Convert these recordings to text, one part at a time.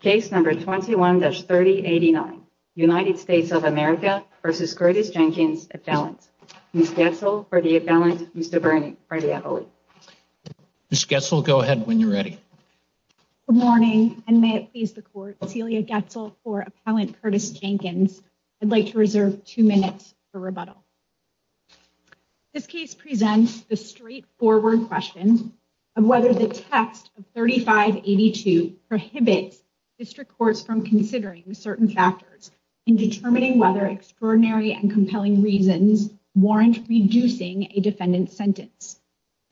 Case number 21-3089, United States of America v. Curtis Jenkins, appellant. Ms. Goetzel for the appellant, Mr. Brady. Ms. Goetzel, go ahead when you're ready. Good morning, and may it please the court, Celia Goetzel for appellant Curtis Jenkins. I'd like to reserve two minutes for rebuttal. This case presents the district courts from considering certain factors in determining whether extraordinary and compelling reasons warrant reducing a defendant's sentence.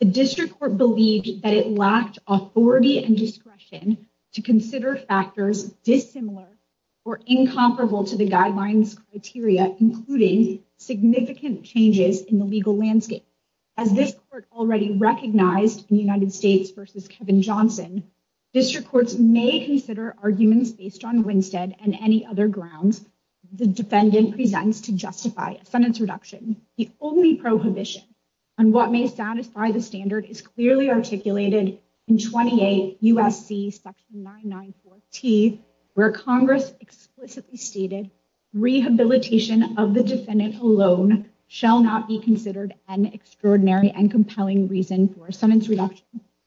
The district court believed that it lacked authority and discretion to consider factors dissimilar or incomparable to the guidelines criteria, including significant changes in the legal landscape. As this court already recognized in United States v. Kevin Johnson, district courts may consider arguments based on Winstead and any other grounds the defendant presents to justify a sentence reduction. The only prohibition on what may satisfy the standard is clearly articulated in 28 U.S.C. section 994-T, where Congress explicitly stated, rehabilitation of the defendant alone shall not be considered an extraordinary and compelling reason for sentence reduction.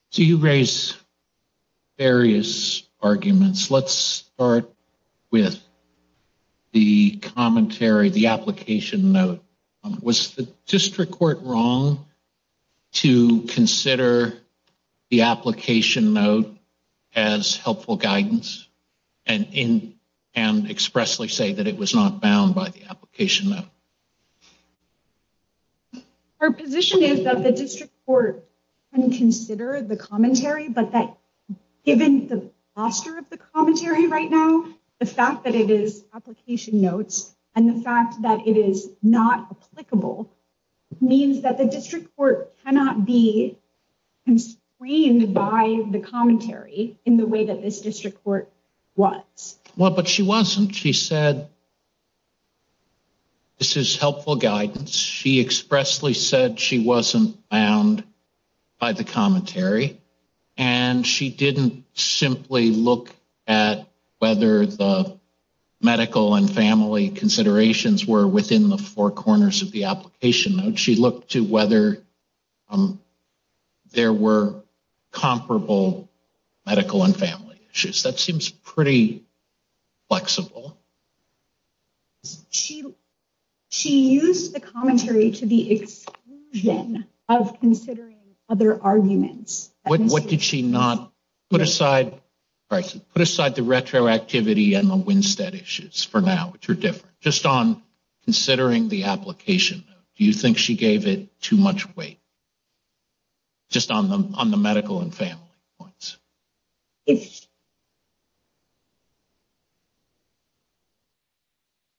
So you raise various arguments. Let's start with the commentary, the application note. Was the district court wrong to consider the application note as helpful guidance and expressly say that it was not bound by the Her position is that the district court can consider the commentary, but that given the posture of the commentary right now, the fact that it is application notes and the fact that it is not applicable means that the district court cannot be constrained by the commentary in the way that this district court was. Well, but she wasn't. She said this is helpful guidance. She expressly said she wasn't bound by the commentary, and she didn't simply look at whether the medical and family considerations were within the four corners of the application note. She looked to whether there were comparable medical and family issues. That she she used the commentary to the exclusion of considering other arguments. What did she not put aside? Right. Put aside the retroactivity and the Winstead issues for now, which are different just on considering the application. Do you think she gave it too much weight? Just on the on the medical and family points.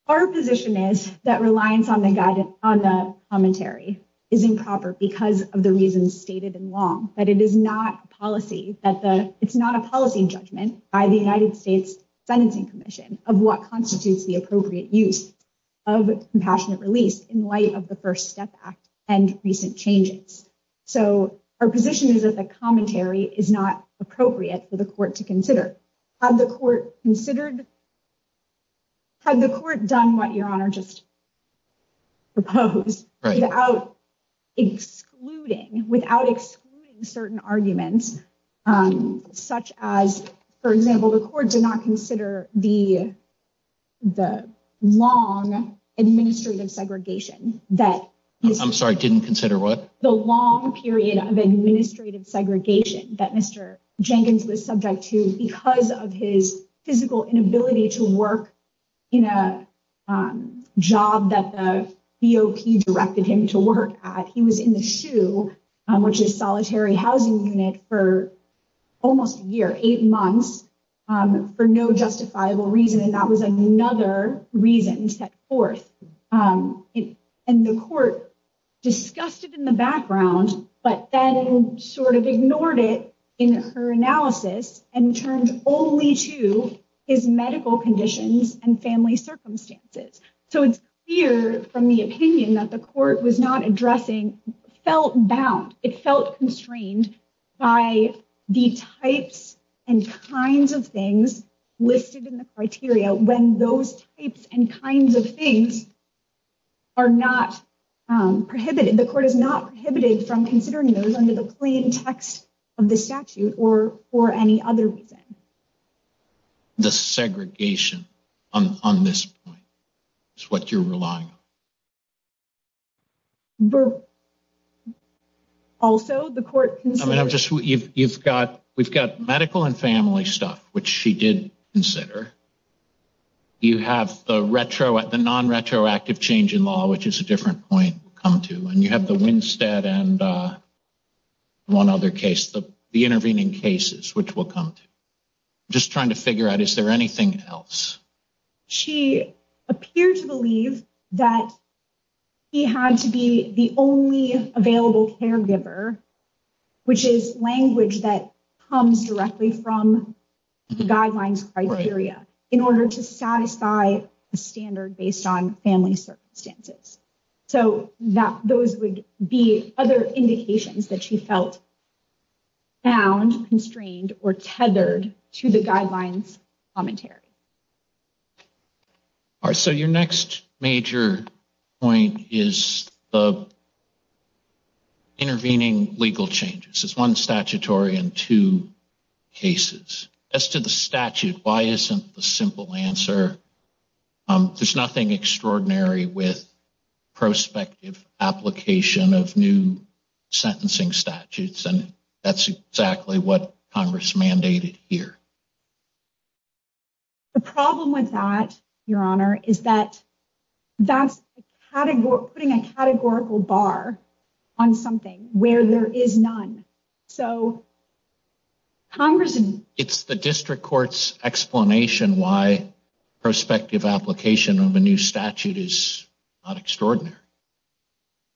Our position is that reliance on the guidance on the commentary is improper because of the reasons stated in law, that it is not policy, that it's not a policy judgment by the United States Sentencing Commission of what constitutes the appropriate use of compassionate release in light of the First Step Act and recent changes. So our position is that the commentary is not appropriate for the court to consider. Had the court considered, had the court done what your honor just proposed without excluding, without excluding certain arguments such as, for example, the court did not consider the the long administrative segregation that. I'm sorry, didn't consider what? The long period of administrative segregation that Mr. Jenkins was subject to because of his physical inability to work in a job that the BOP directed him to work at. He was in the SHU, which is solitary housing unit for almost a year, eight months for no justifiable reason. And that was another reason set forth. And the court discussed it in the background, but then sort of ignored it in her analysis and turned only to his medical conditions and family circumstances. So it's clear from the opinion that the court was not addressing, felt bound, it felt constrained by the types and kinds of things listed in the criteria when those types and kinds of things are not prohibited. The court is not prohibited from considering those under the plain text of the statute or for any other reason. The segregation on this point is what you're relying on. But also the court. I mean, I'm just you've got we've got medical and family stuff, which she did consider. You have the retro at the non retroactive change in law, which is a different point come to. And you have the Winstead and one other case, the intervening cases, which will come to just trying to figure out, is there anything else? She appeared to believe that he had to be the only available caregiver, which is language that comes directly from the guidelines criteria in order to satisfy the standard based on family circumstances. So that those would be other indications that she felt bound, constrained or tethered to the guidelines commentary. So your next major point is the intervening legal changes. It's one statutory and two cases as to the statute. Why isn't the simple answer? There's nothing extraordinary with prospective application of new sentencing statutes, and that's exactly what Congress mandated here. The problem with that, your honor, is that that's putting a categorical bar on something where there is none. So. Congress, and it's the district court's explanation why prospective application of a new statute is not extraordinary.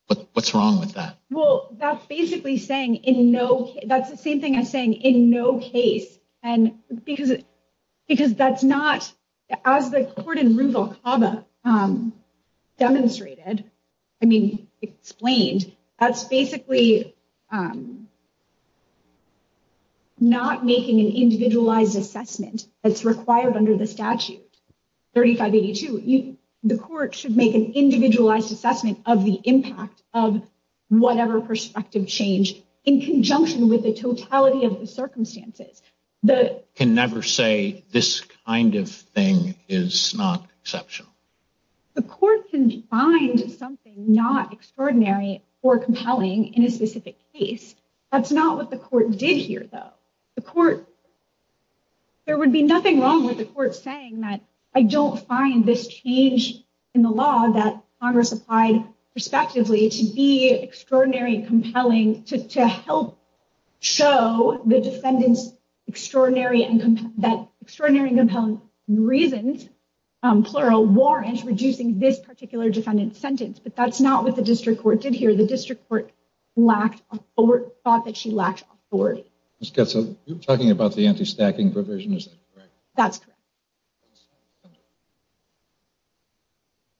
But what's wrong with that? Well, that's basically saying in no that's the same thing as saying in no case. And because it because that's not as the court in Alcaba demonstrated, I mean explained, that's basically not making an individualized assessment that's required under the statute. 3582, the court should make an individualized assessment of the impact of whatever prospective change in conjunction with the totality of the circumstances. Can never say this kind of thing is not exceptional. The court can find something not extraordinary or compelling in a specific case. That's not what the court did here, though. The court, there would be nothing wrong with the court saying that I don't find this change in the law that Congress applied prospectively to be extraordinary and compelling to help show the defendant's extraordinary and compelling reasons, plural, warrants reducing this particular defendant's sentence. But that's not what the district court did here. The district court lacked, thought that she lacked authority. Ms. Ketso, you're talking about the anti-stacking provision, is that correct? That's correct.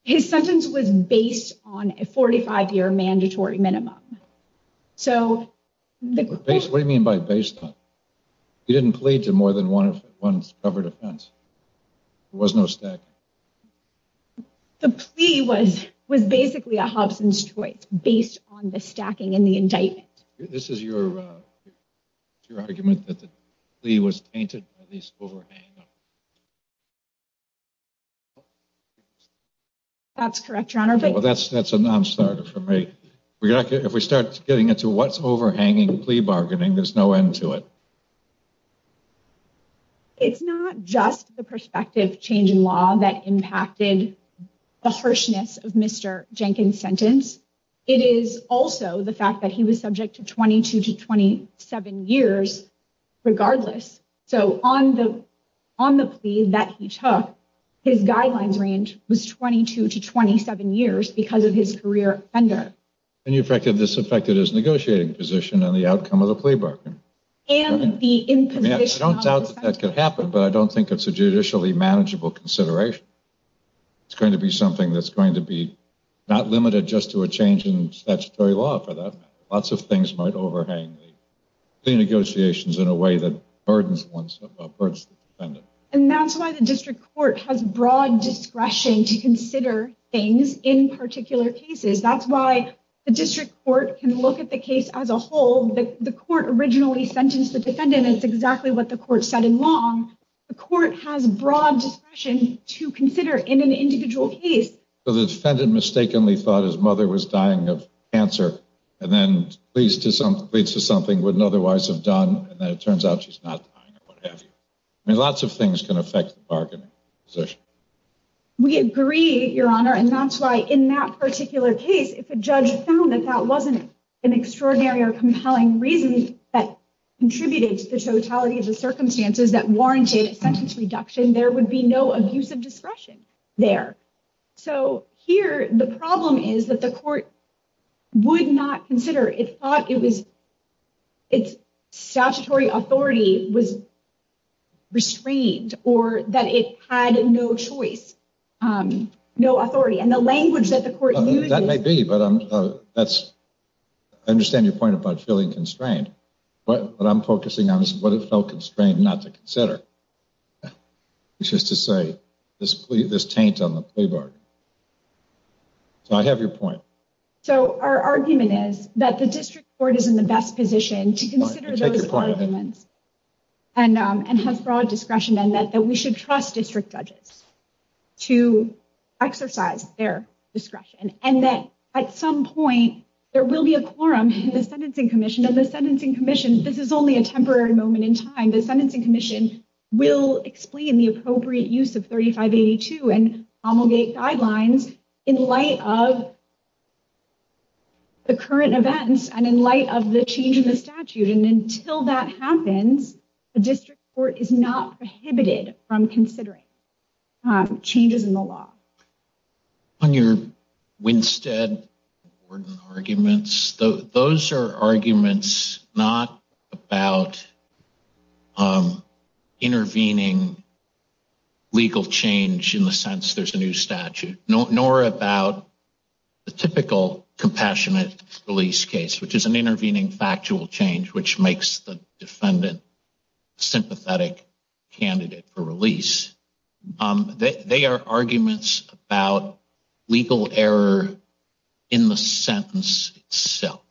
His sentence was based on a 45-year mandatory minimum. What do you mean by based on? He didn't plead to more than one covered offense. There was no stacking. The plea was basically a Hobson's choice based on the stacking and the indictment. This is your argument that the plea was tainted? That's correct, your honor. Well, that's a non-starter for me. If we start getting into what's overhanging plea bargaining, there's no end to it. It's not just the prospective change in law that impacted the harshness of Mr. Jenkins' sentence. It is also the fact that he was subject to 22 to 27 years regardless. So on the plea that he took, his guidelines range was 22 to 27 years because of his career offender. And this affected his negotiating position and the outcome of the plea bargain. I don't doubt that that could happen, but I don't think it's a judicially manageable consideration. It's going to be something that's going to be not limited just to a change in in a way that burdens the defendant. And that's why the district court has broad discretion to consider things in particular cases. That's why the district court can look at the case as a whole. The court originally sentenced the defendant. It's exactly what the court said in Long. The court has broad discretion to consider in an individual case. So the defendant mistakenly thought his mother was dying of cancer and then pleads to something wouldn't otherwise have done. And then it turns out she's not dying or what have you. I mean, lots of things can affect the bargaining position. We agree, Your Honor. And that's why in that particular case, if a judge found that that wasn't an extraordinary or compelling reason that contributed to the totality of the circumstances that warranted a sentence reduction, there would be no abuse of discretion there. So here, the problem is that the court would not consider it thought it was its statutory authority was restrained or that it had no choice, no authority and the language that the court. That may be, but that's I understand your point about feeling constrained, but what I'm focusing on is what it felt constrained not to consider. It's just to say this, this taint on the playbook. So I have your point. So our argument is that the district court is in the best position to consider those arguments and has broad discretion and that we should trust district judges to exercise their discretion and that at some point there will be a quorum in the Sentencing Commission and the Sentencing Commission. This is only a temporary moment in time. The Sentencing Commission will explain the appropriate use of 3582 and homilgate guidelines in light of the current events and in light of the change in the statute. And until that happens, the district court is not prohibited from considering changes in the law. On your Winstead arguments, those are arguments not about intervening legal change in the sense there's a new statute, nor about the typical compassionate release case, which is an intervening factual change, which makes the defendant sympathetic candidate for release. They are arguments about legal error in the sentence itself.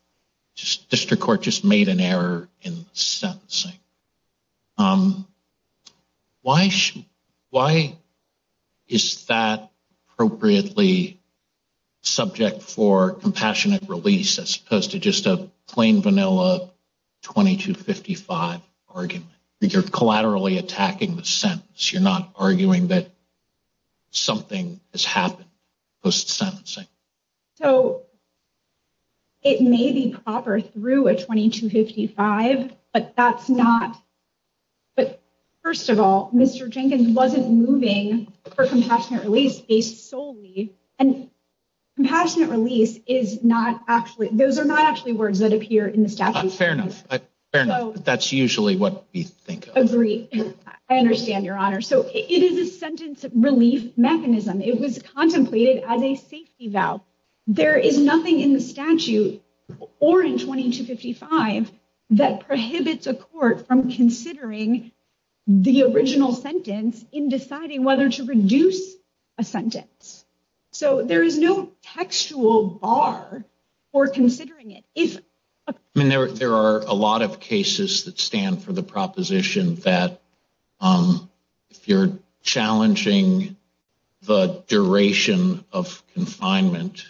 District court just made an error in the sentencing. Why is that appropriately subject for compassionate release as opposed to just a plain vanilla 2255 argument? You're collaterally attacking the sentence. You're not arguing that something has happened post-sentencing. So, it may be proper through a 2255, but that's not, but first of all, Mr. Jenkins wasn't moving for compassionate release based solely, and compassionate release is not actually, those are not actually words that appear in the agree. I understand your honor. So, it is a sentence relief mechanism. It was contemplated as a safety valve. There is nothing in the statute or in 2255 that prohibits a court from considering the original sentence in deciding whether to reduce a sentence. So, there is no textual bar for considering it. I mean, there are a lot of cases that stand for the proposition that if you're challenging the duration of confinement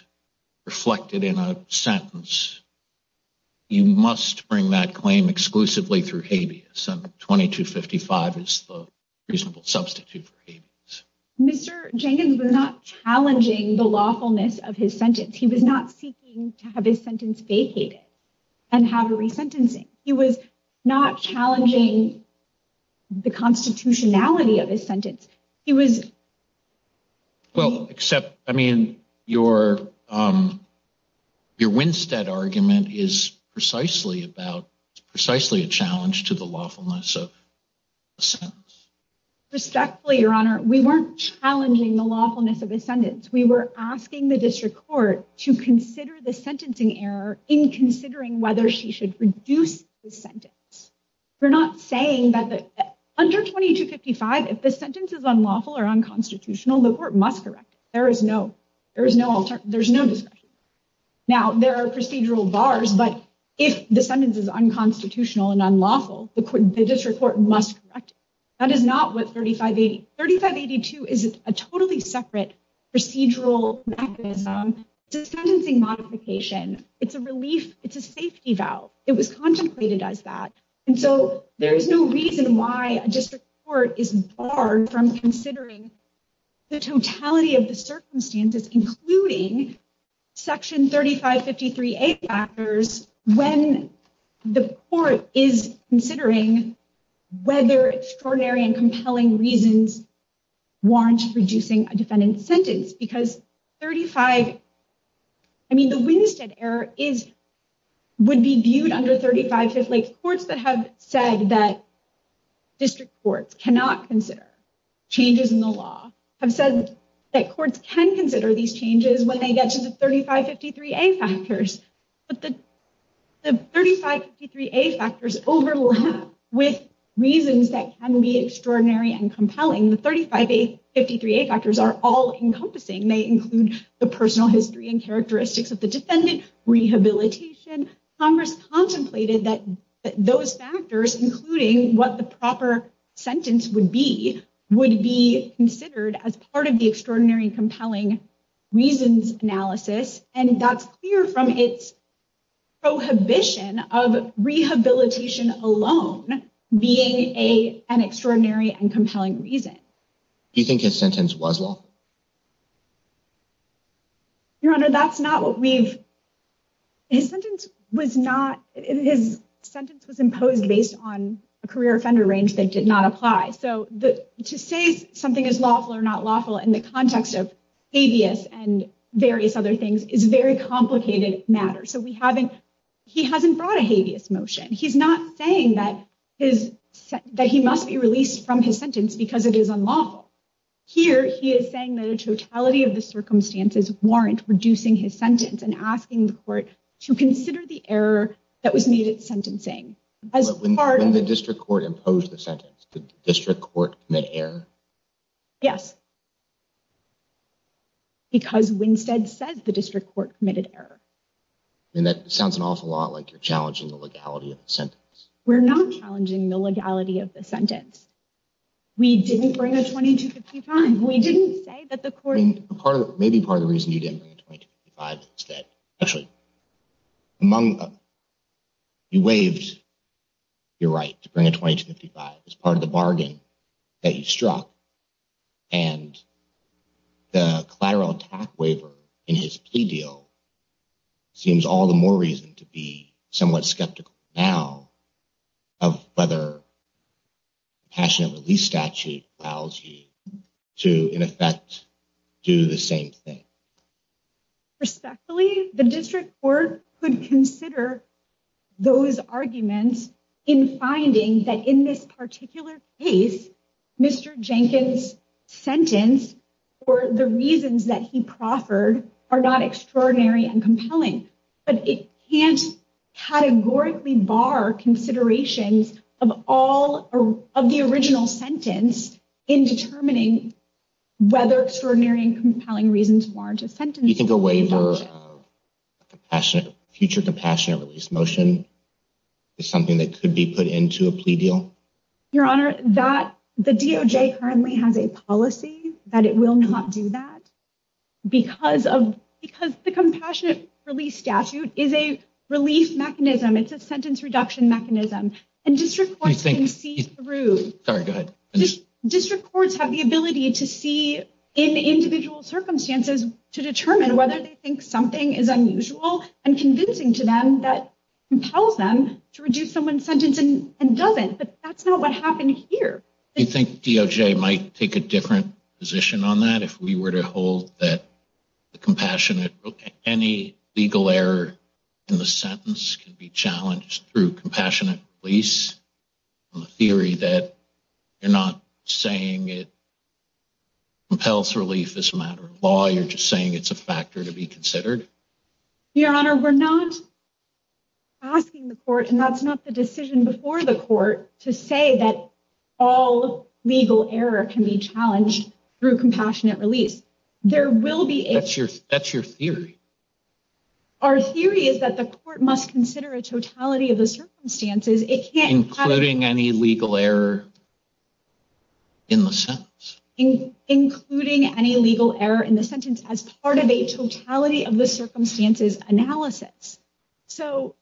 reflected in a sentence, you must bring that claim exclusively through habeas, and 2255 is the reasonable substitute. Habeas. Mr. Jenkins was not challenging the lawfulness of his sentence. He was not seeking to have his sentence vacated and have a resentencing. He was not challenging the constitutionality of his sentence. He was. Well, except, I mean, your Winstead argument is precisely about, it's precisely a challenge to the lawfulness of a sentence. Respectfully, your honor, we weren't challenging the lawfulness of a sentence. We were asking the district court to consider the sentencing error in considering whether she should reduce the sentence. We're not saying that under 2255, if the sentence is unlawful or unconstitutional, the court must correct it. There is no alternative. There's no discretion. Now, there are procedural bars, but if the sentence is unconstitutional and unlawful, the district court must correct it. That is not what 3582. 3582 is a totally separate procedural mechanism to sentencing modification. It's a relief. It's a safety valve. It was contemplated as that, and so there is no reason why a district court is barred from considering the totality of the circumstances, including section 3553A factors when the court is considering whether extraordinary and compelling reasons warrant reducing a defendant's sentence, because 35, I mean, the Winstead error is, would be viewed under 35, like, courts that have said that district courts cannot consider changes in the law have said that courts can consider these changes when they get to the 3553A factors, but the 3553A factors overlap with reasons that can be extraordinary and compelling. The 3553A factors are all-encompassing. They include the personal history and characteristics of the defendant, rehabilitation. Congress contemplated that those factors, including what the proper sentence would be, would be considered as part of the extraordinary and compelling reasons analysis, and that's clear from its prohibition of rehabilitation alone being an extraordinary and compelling reason. Do you think his sentence was lawful? Your Honor, that's not what we've, his sentence was not, his sentence was imposed based on a career offender range that did not apply, so to say something is lawful or not lawful in the context of habeas and various other things is very complicated matter, so we haven't, he hasn't brought a habeas motion. He's not saying that his, that he must be released from his sentence because it is unlawful. Here he is saying that a totality of the circumstances warrant reducing his sentence and asking the court to consider the error that was made at sentencing. When the district court imposed the sentence, did the district court commit error? Yes, because Winstead says the district court committed error. And that sounds an awful lot like you're challenging the legality of the sentence. We didn't bring a 2255. We didn't say that the court. Part of, maybe part of the reason you didn't bring a 2255 is that actually among, you waived your right to bring a 2255 as part of the bargain that you struck, and the collateral attack waiver in his plea deal seems all the more to be somewhat skeptical now of whether compassionate release statute allows you to, in effect, do the same thing. Respectfully, the district court could consider those arguments in finding that in this particular case, Mr. Jenkins' sentence or the reasons that he proffered are not extraordinary and compelling, but it can't categorically bar considerations of all of the original sentence in determining whether extraordinary and compelling reasons warrant a sentence. You think a waiver of compassionate, future compassionate release motion is something that could be put into a plea deal? Your honor, that the DOJ currently has a policy that it will not do that because of, because the compassionate release statute is a relief mechanism. It's a sentence reduction mechanism, and district courts can see through. Sorry, go ahead. District courts have the ability to see in individual circumstances to determine whether they think something is unusual and convincing to them that compels them to reduce someone's sentence and doesn't, but that's not what happened here. Do you think DOJ might take a different position on that if we were to hold that the compassionate, any legal error in the sentence can be challenged through compassionate release on the theory that you're not saying it compels relief as a matter of law, you're just saying it's a factor to be considered? Your honor, we're not asking the court, and that's not the decision before the court, to say that all legal error can be challenged through compassionate release. There will be... That's your theory. Our theory is that the court must consider a totality of the circumstances... Including any legal error in the sentence. Including any legal error in the sentence as part of a totality of the circumstances analysis. So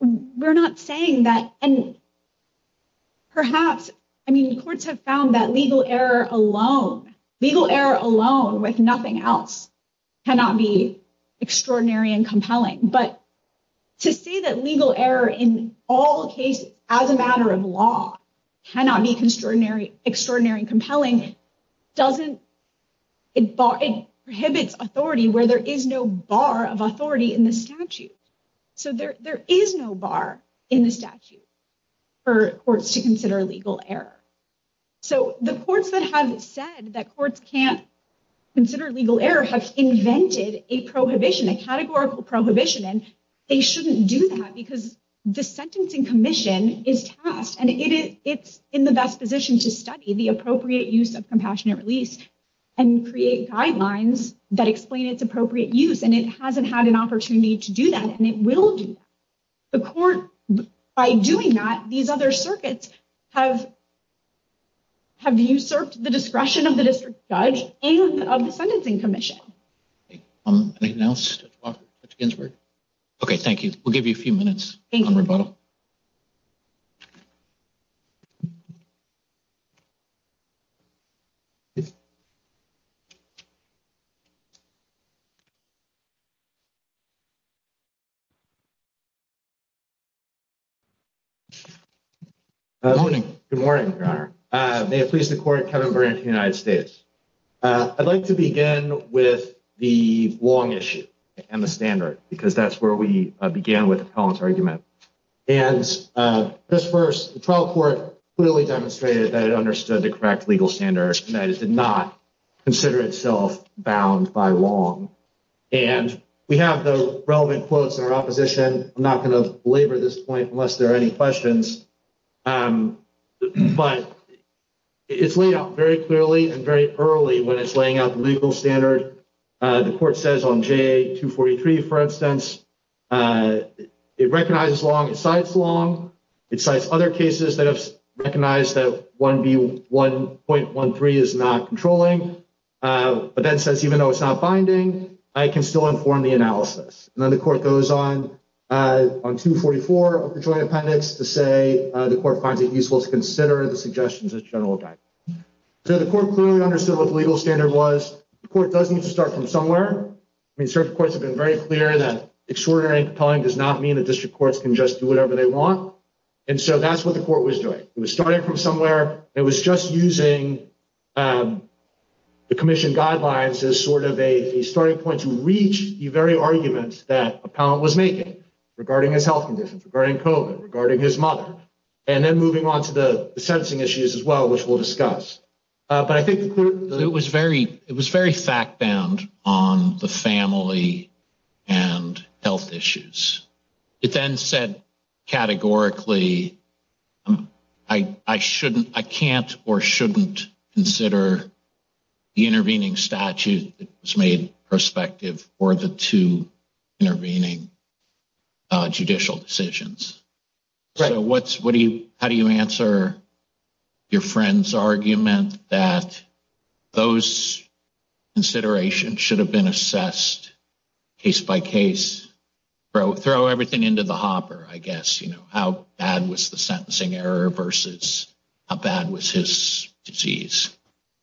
we're not saying that... And perhaps, I mean, courts have found that legal error alone, legal error alone with nothing else, cannot be extraordinary and compelling. But to say that legal error in all cases as a matter of law cannot be extraordinary and compelling doesn't... There is no bar in the statute for courts to consider legal error. So the courts that have said that courts can't consider legal error have invented a prohibition, a categorical prohibition, and they shouldn't do that because the sentencing commission is tasked, and it's in the best position to study the appropriate use of compassionate release and create guidelines that explain its appropriate use. And it hasn't had an opportunity to do that, and it will do that. The court, by doing that, these other circuits have usurped the discretion of the district judge and of the sentencing commission. Anything else, Dr. Ginsburg? Okay, thank you. We'll give you a few minutes on rebuttal. Good morning. Good morning, Your Honor. May it please the court, Kevin Burnett of the United States. I'd like to begin with the long issue and the standard, because that's where we began with the compellence argument. And just first, the trial court clearly demonstrated that it understood the legal standard and that it did not consider itself bound by long. And we have the relevant quotes in our opposition. I'm not going to belabor this point unless there are any questions. But it's laid out very clearly and very early when it's laying out the legal standard. The court says on JA-243, for instance, it recognizes long, it cites long, it cites other cases that have recognized that 1B1.13 is not controlling, but then says even though it's not binding, I can still inform the analysis. And then the court goes on, on 244 of the joint appendix to say the court finds it useful to consider the suggestions as general guidance. So the court clearly understood what the legal standard was. The court does need to start from somewhere. I mean, certain courts have been very clear that extraordinary compelling does not mean that court was doing. It was starting from somewhere. It was just using the commission guidelines as sort of a starting point to reach the very argument that appellant was making regarding his health conditions, regarding COVID, regarding his mother. And then moving on to the sentencing issues as well, which we'll discuss. But I think the court- It was very fact bound on the family and health issues. It then said categorically, I shouldn't, I can't or shouldn't consider the intervening statute that was made prospective for the two intervening judicial decisions. So what's, what do you, how do you answer your friend's argument that those considerations should have been assessed case by case? Throw everything into the hopper, I guess. How bad was the sentencing error versus how bad was his disease?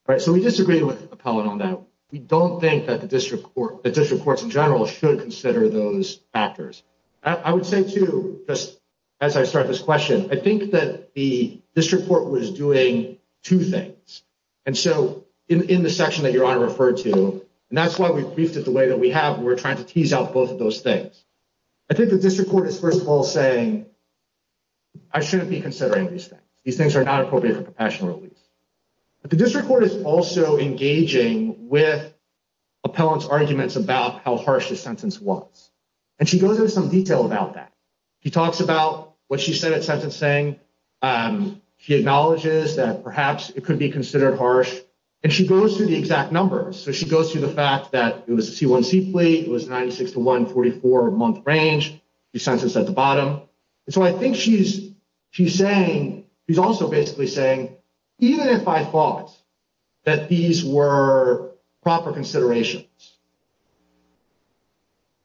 Right. So we disagree with appellant on that. We don't think that the district court, the district courts in general should consider those factors. I would say too, just as I start this question, I think that the district court was doing two things. And so in the section that your honor referred to, and that's why we briefed it the way that we have, and we're trying to tease out both of those things. I think the district court is first of all saying, I shouldn't be considering these things. These things are not appropriate for professional release. But the district court is also engaging with appellant's arguments about how harsh the sentence was. And she goes into some detail about that. He talks about what she said at sentencing. She acknowledges that perhaps it could be considered harsh, and she goes through the exact numbers. So she goes through the fact that it was a C1C fleet. It was 96 to 144 month range. She sentenced at the bottom. And so I think she's, she's saying, she's also basically saying, even if I thought that these were proper considerations,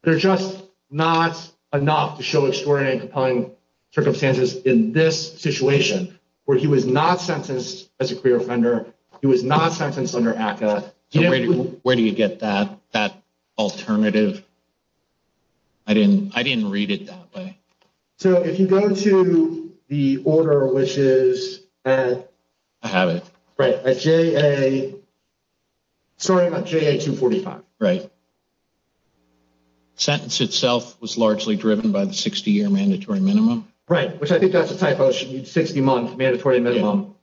they're just not enough to show extraordinary and compelling circumstances in this situation, where he was not sentenced as a career offender. He was not sentenced under ACCA. Where do you get that, that alternative? I didn't, I didn't read it that way. So if you go to the order, which is. I have it. Right. At JA, sorry, JA 245. Right. Sentence itself was largely driven by the 60 year mandatory minimum. Right. Which I think that's a typo. She used 60 month mandatory minimum.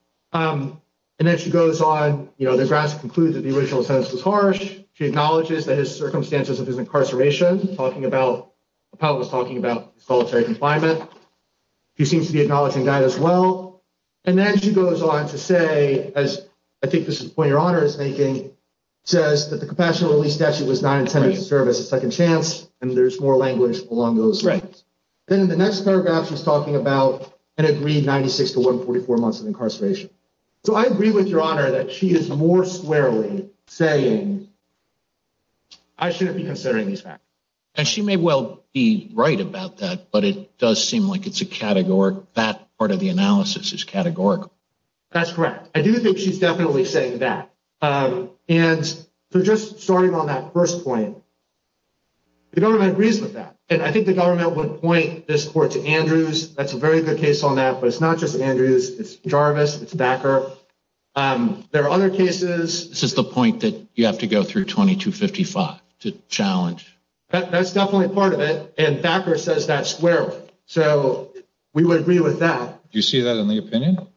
And then she goes on, you know, the grass concludes that the original sentence was harsh. She acknowledges that his circumstances of his incarceration, talking about, appellant was talking about solitary confinement. She seems to be acknowledging that as well. And then she goes on to say, as I think this is the point your honor is making, says that the compassionate release statute was not intended to serve as a second chance. And there's more language along those lines. Then in the next paragraph, she's talking about an agreed 96 to 144 months of incarceration. So I agree with your honor that she is more squarely saying, I shouldn't be considering these facts. And she may well be right about that, but it is categorical. That's correct. I do think she's definitely saying that. And so just starting on that first point, the government agrees with that. And I think the government would point this court to Andrews. That's a very good case on that, but it's not just Andrews, it's Jarvis, it's backer. There are other cases. This is the point that you have to go through 2255 to challenge. That's definitely a part of it. And backer says that squarely. So we would agree with that. Do you see that in the opinion?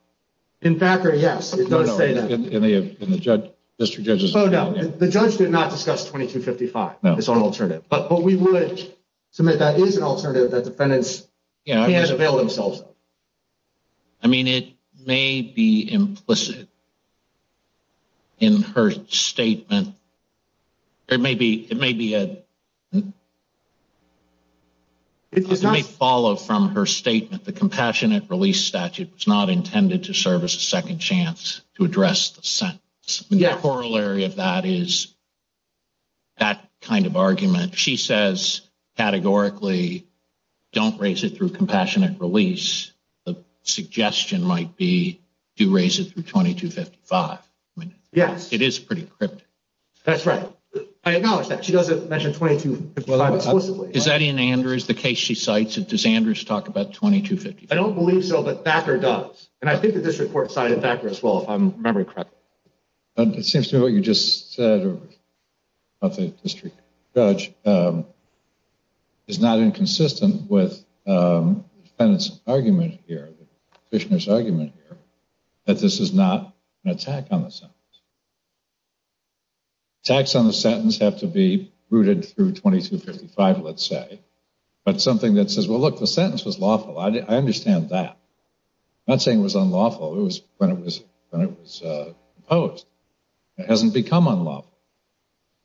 In fact, yes, it does say that in the in the judge, district judges. Oh no, the judge did not discuss 2255. No, it's an alternative. But what we would submit that is an alternative that defendants can't avail themselves of. I mean, it may be implicit in her statement. It may be, it may be a It may follow from her statement. The compassionate release statute was not intended to serve as a second chance to address the sentence. The corollary of that is that kind of argument. She says categorically don't raise it through compassionate release. The suggestion might be to raise it through 2255. I mean, yes, it is pretty cryptic. That's right. I acknowledge that she doesn't mention 22. Is that in Andrews, the case she cites it? Does Andrews talk about 2255? I don't believe so. But backer does. And I think that this report cited backer as well, if I'm memory correct. It seems to me what you just said about the district judge is not inconsistent with the defendant's argument here, the petitioner's an attack on the sentence. Attacks on the sentence have to be rooted through 2255, let's say. But something that says, well, look, the sentence was lawful. I understand that. Not saying it was unlawful. It was when it was when it was opposed. It hasn't become unlawful.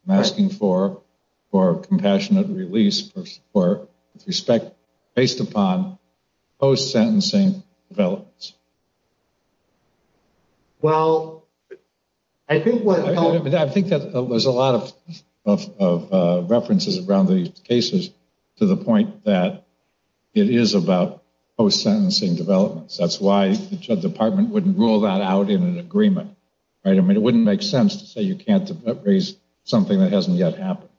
I'm asking for, for compassionate release for respect based upon post sentencing developments. Well, I think what I think that there's a lot of of references around these cases to the point that it is about post sentencing developments. That's why the department wouldn't rule that out in an agreement. Right. I mean, it wouldn't make sense to say you can't raise something that hasn't yet happened.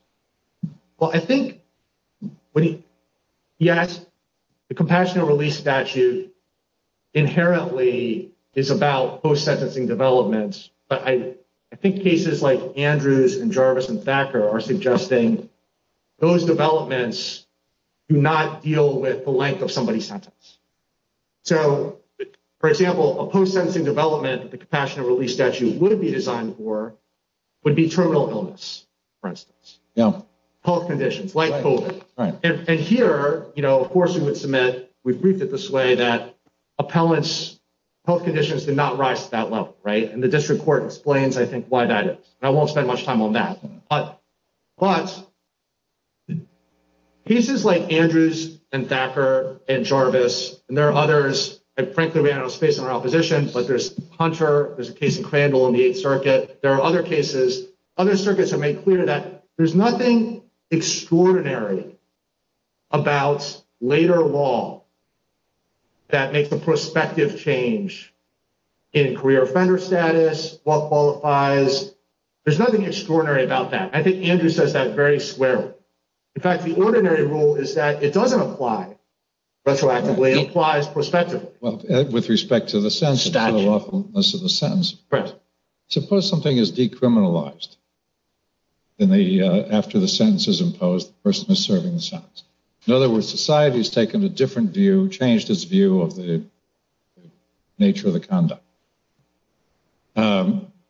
Well, I think, yes, the compassionate release statute inherently is about post sentencing developments. But I think cases like Andrews and Jarvis and Thacker are suggesting those developments do not deal with the length of somebody's sentence. So, for example, a post sentencing development, the compassionate release statute would be designed for would be terminal for instance. Health conditions like COVID. And here, you know, of course, we would submit, we've briefed it this way, that appellants health conditions did not rise to that level. Right. And the district court explains, I think, why that is. I won't spend much time on that. But pieces like Andrews and Thacker and Jarvis and there are others, and frankly, we have no space in our opposition, but there's Hunter, there's a case in Crandall in the Eighth Circuit. There are other circuits that make clear that there's nothing extraordinary about later law that makes a prospective change in career offender status, what qualifies. There's nothing extraordinary about that. I think Andrews says that very squarely. In fact, the ordinary rule is that it doesn't apply retroactively, it applies prospectively. Well, with respect to the awfulness of the sentence, suppose something is decriminalized. After the sentence is imposed, the person is serving the sentence. In other words, society has taken a different view, changed its view of the nature of the conduct.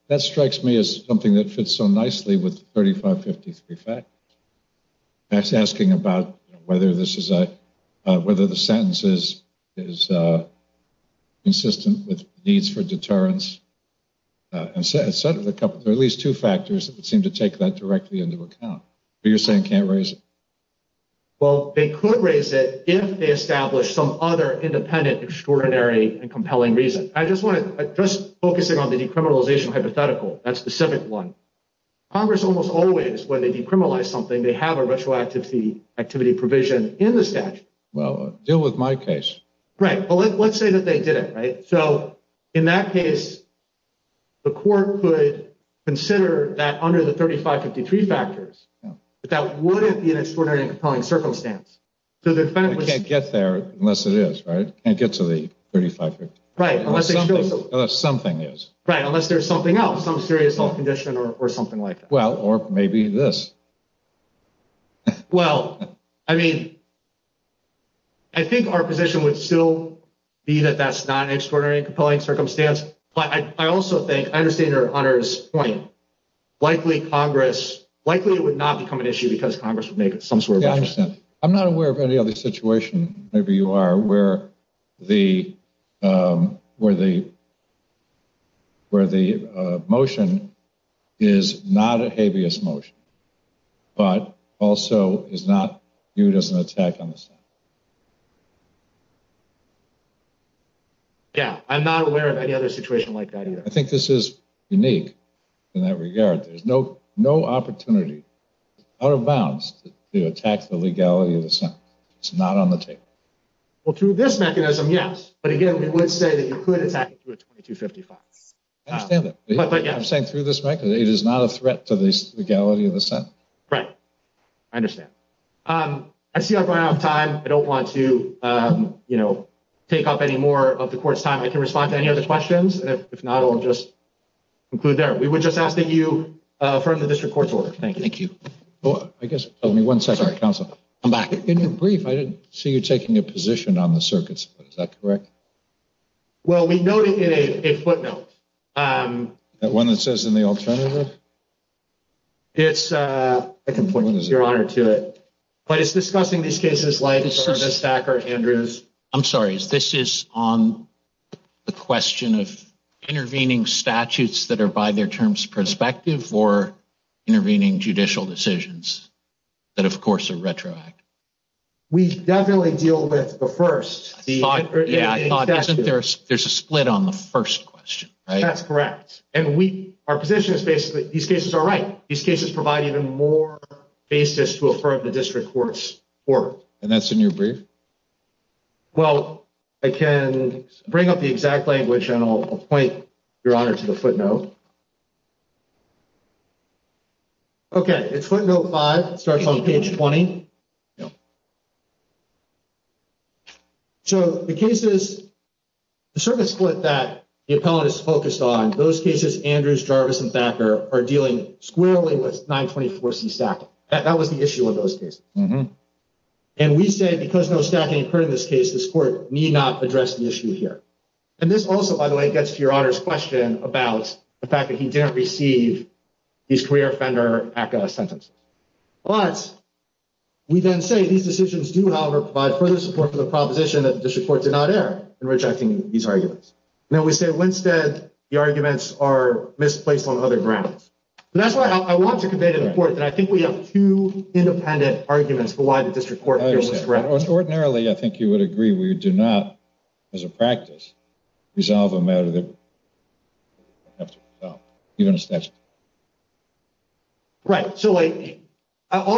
That strikes me as something that fits so nicely with 3553 fact. That's asking about whether the sentence is consistent with needs for deterrence, and there are at least two factors that would seem to take that directly into account. But you're saying can't raise it? Well, they could raise it if they establish some other independent, extraordinary, and compelling reason. Just focusing on the decriminalization hypothetical, that's the civic one. Congress almost always, when they decriminalize something, they have a retroactivity provision in the statute. Well, deal with my case. Right. Well, let's say that they did it, right? So in that case, the court could consider that under the 3553 factors, but that wouldn't be an extraordinary and compelling circumstance. So the defendant- Can't get there unless it is, right? Can't get to the 3553. Right, unless they show something. Unless something is. Right, unless there's something else, some serious health condition or something like that. Well, or maybe this. Well, I mean, I think our position would still be that that's not an extraordinary and compelling circumstance, but I also think, I understand your honor's point, likely Congress, likely it would not become an issue because Congress would make some sort of- Yeah, I understand. I'm not aware of any where the motion is not a habeas motion, but also is not viewed as an attack on the Senate. Yeah, I'm not aware of any other situation like that either. I think this is unique in that regard. There's no opportunity out of bounds to attack the legality of the Senate. It's not on the table. Well, through this mechanism, yes. But again, it would say that you could attack it through a 2255. I understand that. I'm saying through this mechanism, it is not a threat to the legality of the Senate. Right, I understand. I see I'm running out of time. I don't want to take up any more of the court's time. I can respond to any other questions. If not, I'll just conclude there. We were just asking you for the district court's order. Thank you. Thank you. I guess, give me one second, counsel. I'm back. In your brief, I didn't see you taking a position on the circuits, but is that correct? Well, we noted in a footnote. That one that says in the alternative? It's a complete your honor to it, but it's discussing these cases like the stacker Andrews. I'm sorry, is this is on the question of intervening statutes that are by their terms perspective or intervening judicial decisions that, of course, are retroactive? We definitely deal with the first. Yeah, I thought there's a split on the first question, right? That's correct. And we, our position is basically these cases are right. These cases provide even more basis to affirm the district court's work. And that's in your brief? Well, I can bring up the exact language and I'll point your honor to the footnote. Okay, it's footnote 5. It starts on page 20. So, the cases, the circuit split that the appellant is focused on, those cases, Andrews, Jarvis, and Thacker are dealing squarely with 924C stack. That was the issue of those cases. And we say, because no stacking occurred in this case, this court need not address the issue here. And this also, by the way, gets to your honor's about the fact that he didn't receive his career offender sentence. But we then say these decisions do, however, provide further support for the proposition that the district court did not err in rejecting these arguments. And then we say, when said the arguments are misplaced on other grounds. And that's why I want to convey to the court that I think we have two independent arguments for why the district court was correct. Ordinarily, I think you would agree. We do not, as a practice, resolve a matter that you have to resolve, even a statute. Right. So, all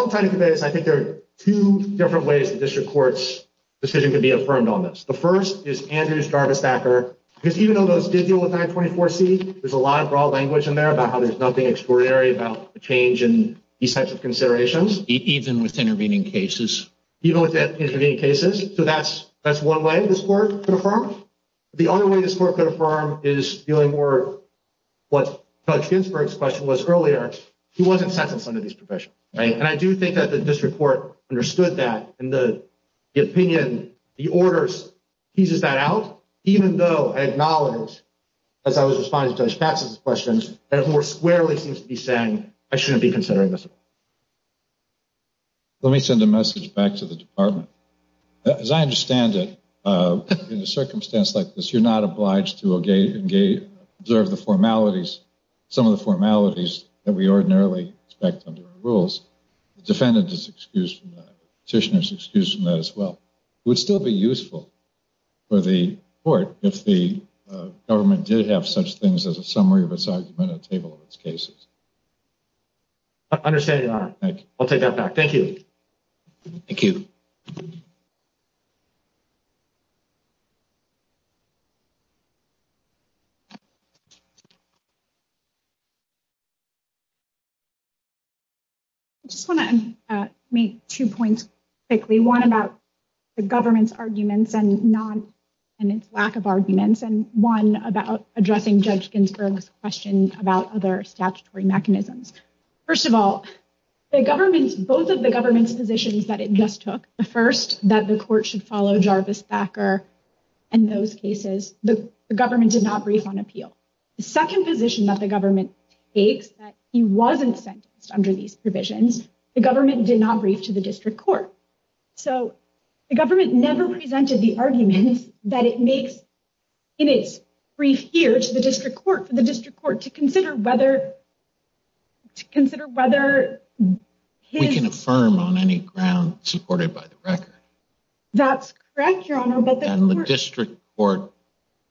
I'm trying to convey is I think there are two different ways the district court's decision could be affirmed on this. The first is Andrews, Jarvis, Thacker. Because even though those did deal with 924C, there's a lot of broad language in there about how there's nothing extraordinary about the change in these types of considerations. Even with intervening cases. Even with intervening cases. So, that's one way this court could affirm. The other way this court could affirm is dealing more with what Judge Ginsburg's question was earlier. He wasn't sentenced under these provisions. And I do think that the district court understood that. And the opinion, the orders, teases that out. Even though I acknowledge, as I was responding to Judge Patz's questions, that it more squarely seems to be saying, I shouldn't be considering this. Let me send a message back to the department. As I understand it, in a circumstance like this, you're not obliged to observe the formalities, some of the formalities that we ordinarily expect under our rules. Defendant is excused from that. Petitioner is excused from that as well. It would still be useful for the court if the government did have such things as a summary of its argument and a table of its cases. I understand your honor. Thank you. I'll take that back. Thank you. Just want to make two points quickly. One about the government's arguments and its lack of other statutory mechanisms. First of all, the government's, both of the government's positions that it just took, the first, that the court should follow Jarvis Thacker and those cases, the government did not brief on appeal. The second position that the government takes, that he wasn't sentenced under these provisions, the government did not brief to the district court. So the government never presented the arguments that it makes in its brief here to the district court, the district court to consider whether, to consider whether... We can affirm on any ground supported by the record. That's correct, your honor. And the district court,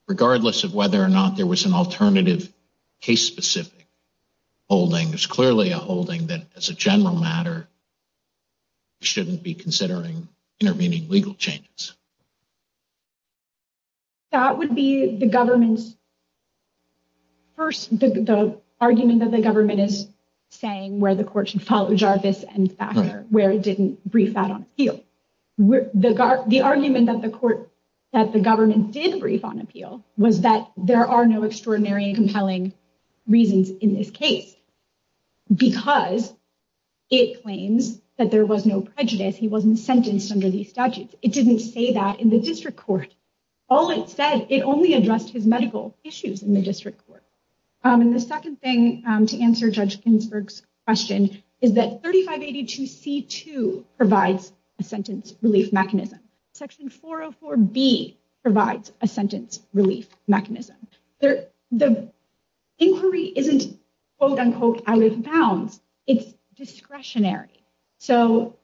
regardless of whether or not there was an alternative case specific holding, there's clearly a holding that as a general matter shouldn't be considering intervening legal changes. That would be the government's... First, the argument that the government is saying where the court should follow Jarvis and Thacker, where it didn't brief that on appeal. The argument that the court, that the government did brief on appeal was that there are no extraordinary and compelling reasons in this case because it claims that there was no prejudice. He wasn't sentenced under these statutes. It didn't say that in the district court. All it said, it only addressed his medical issues in the district court. And the second thing to answer Judge Ginsburg's question is that 3582C2 provides a sentence relief mechanism. Section 404B provides a sentence relief mechanism. The inquiry isn't, quote unquote, out of bounds. It's discretionary. So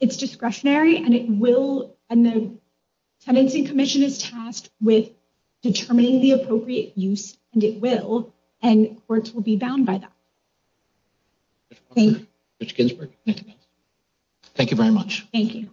it's discretionary and it will... And the Tenancy Commission is tasked with determining the appropriate use and it will, and courts will be bound by that. Thank you very much. Thank you.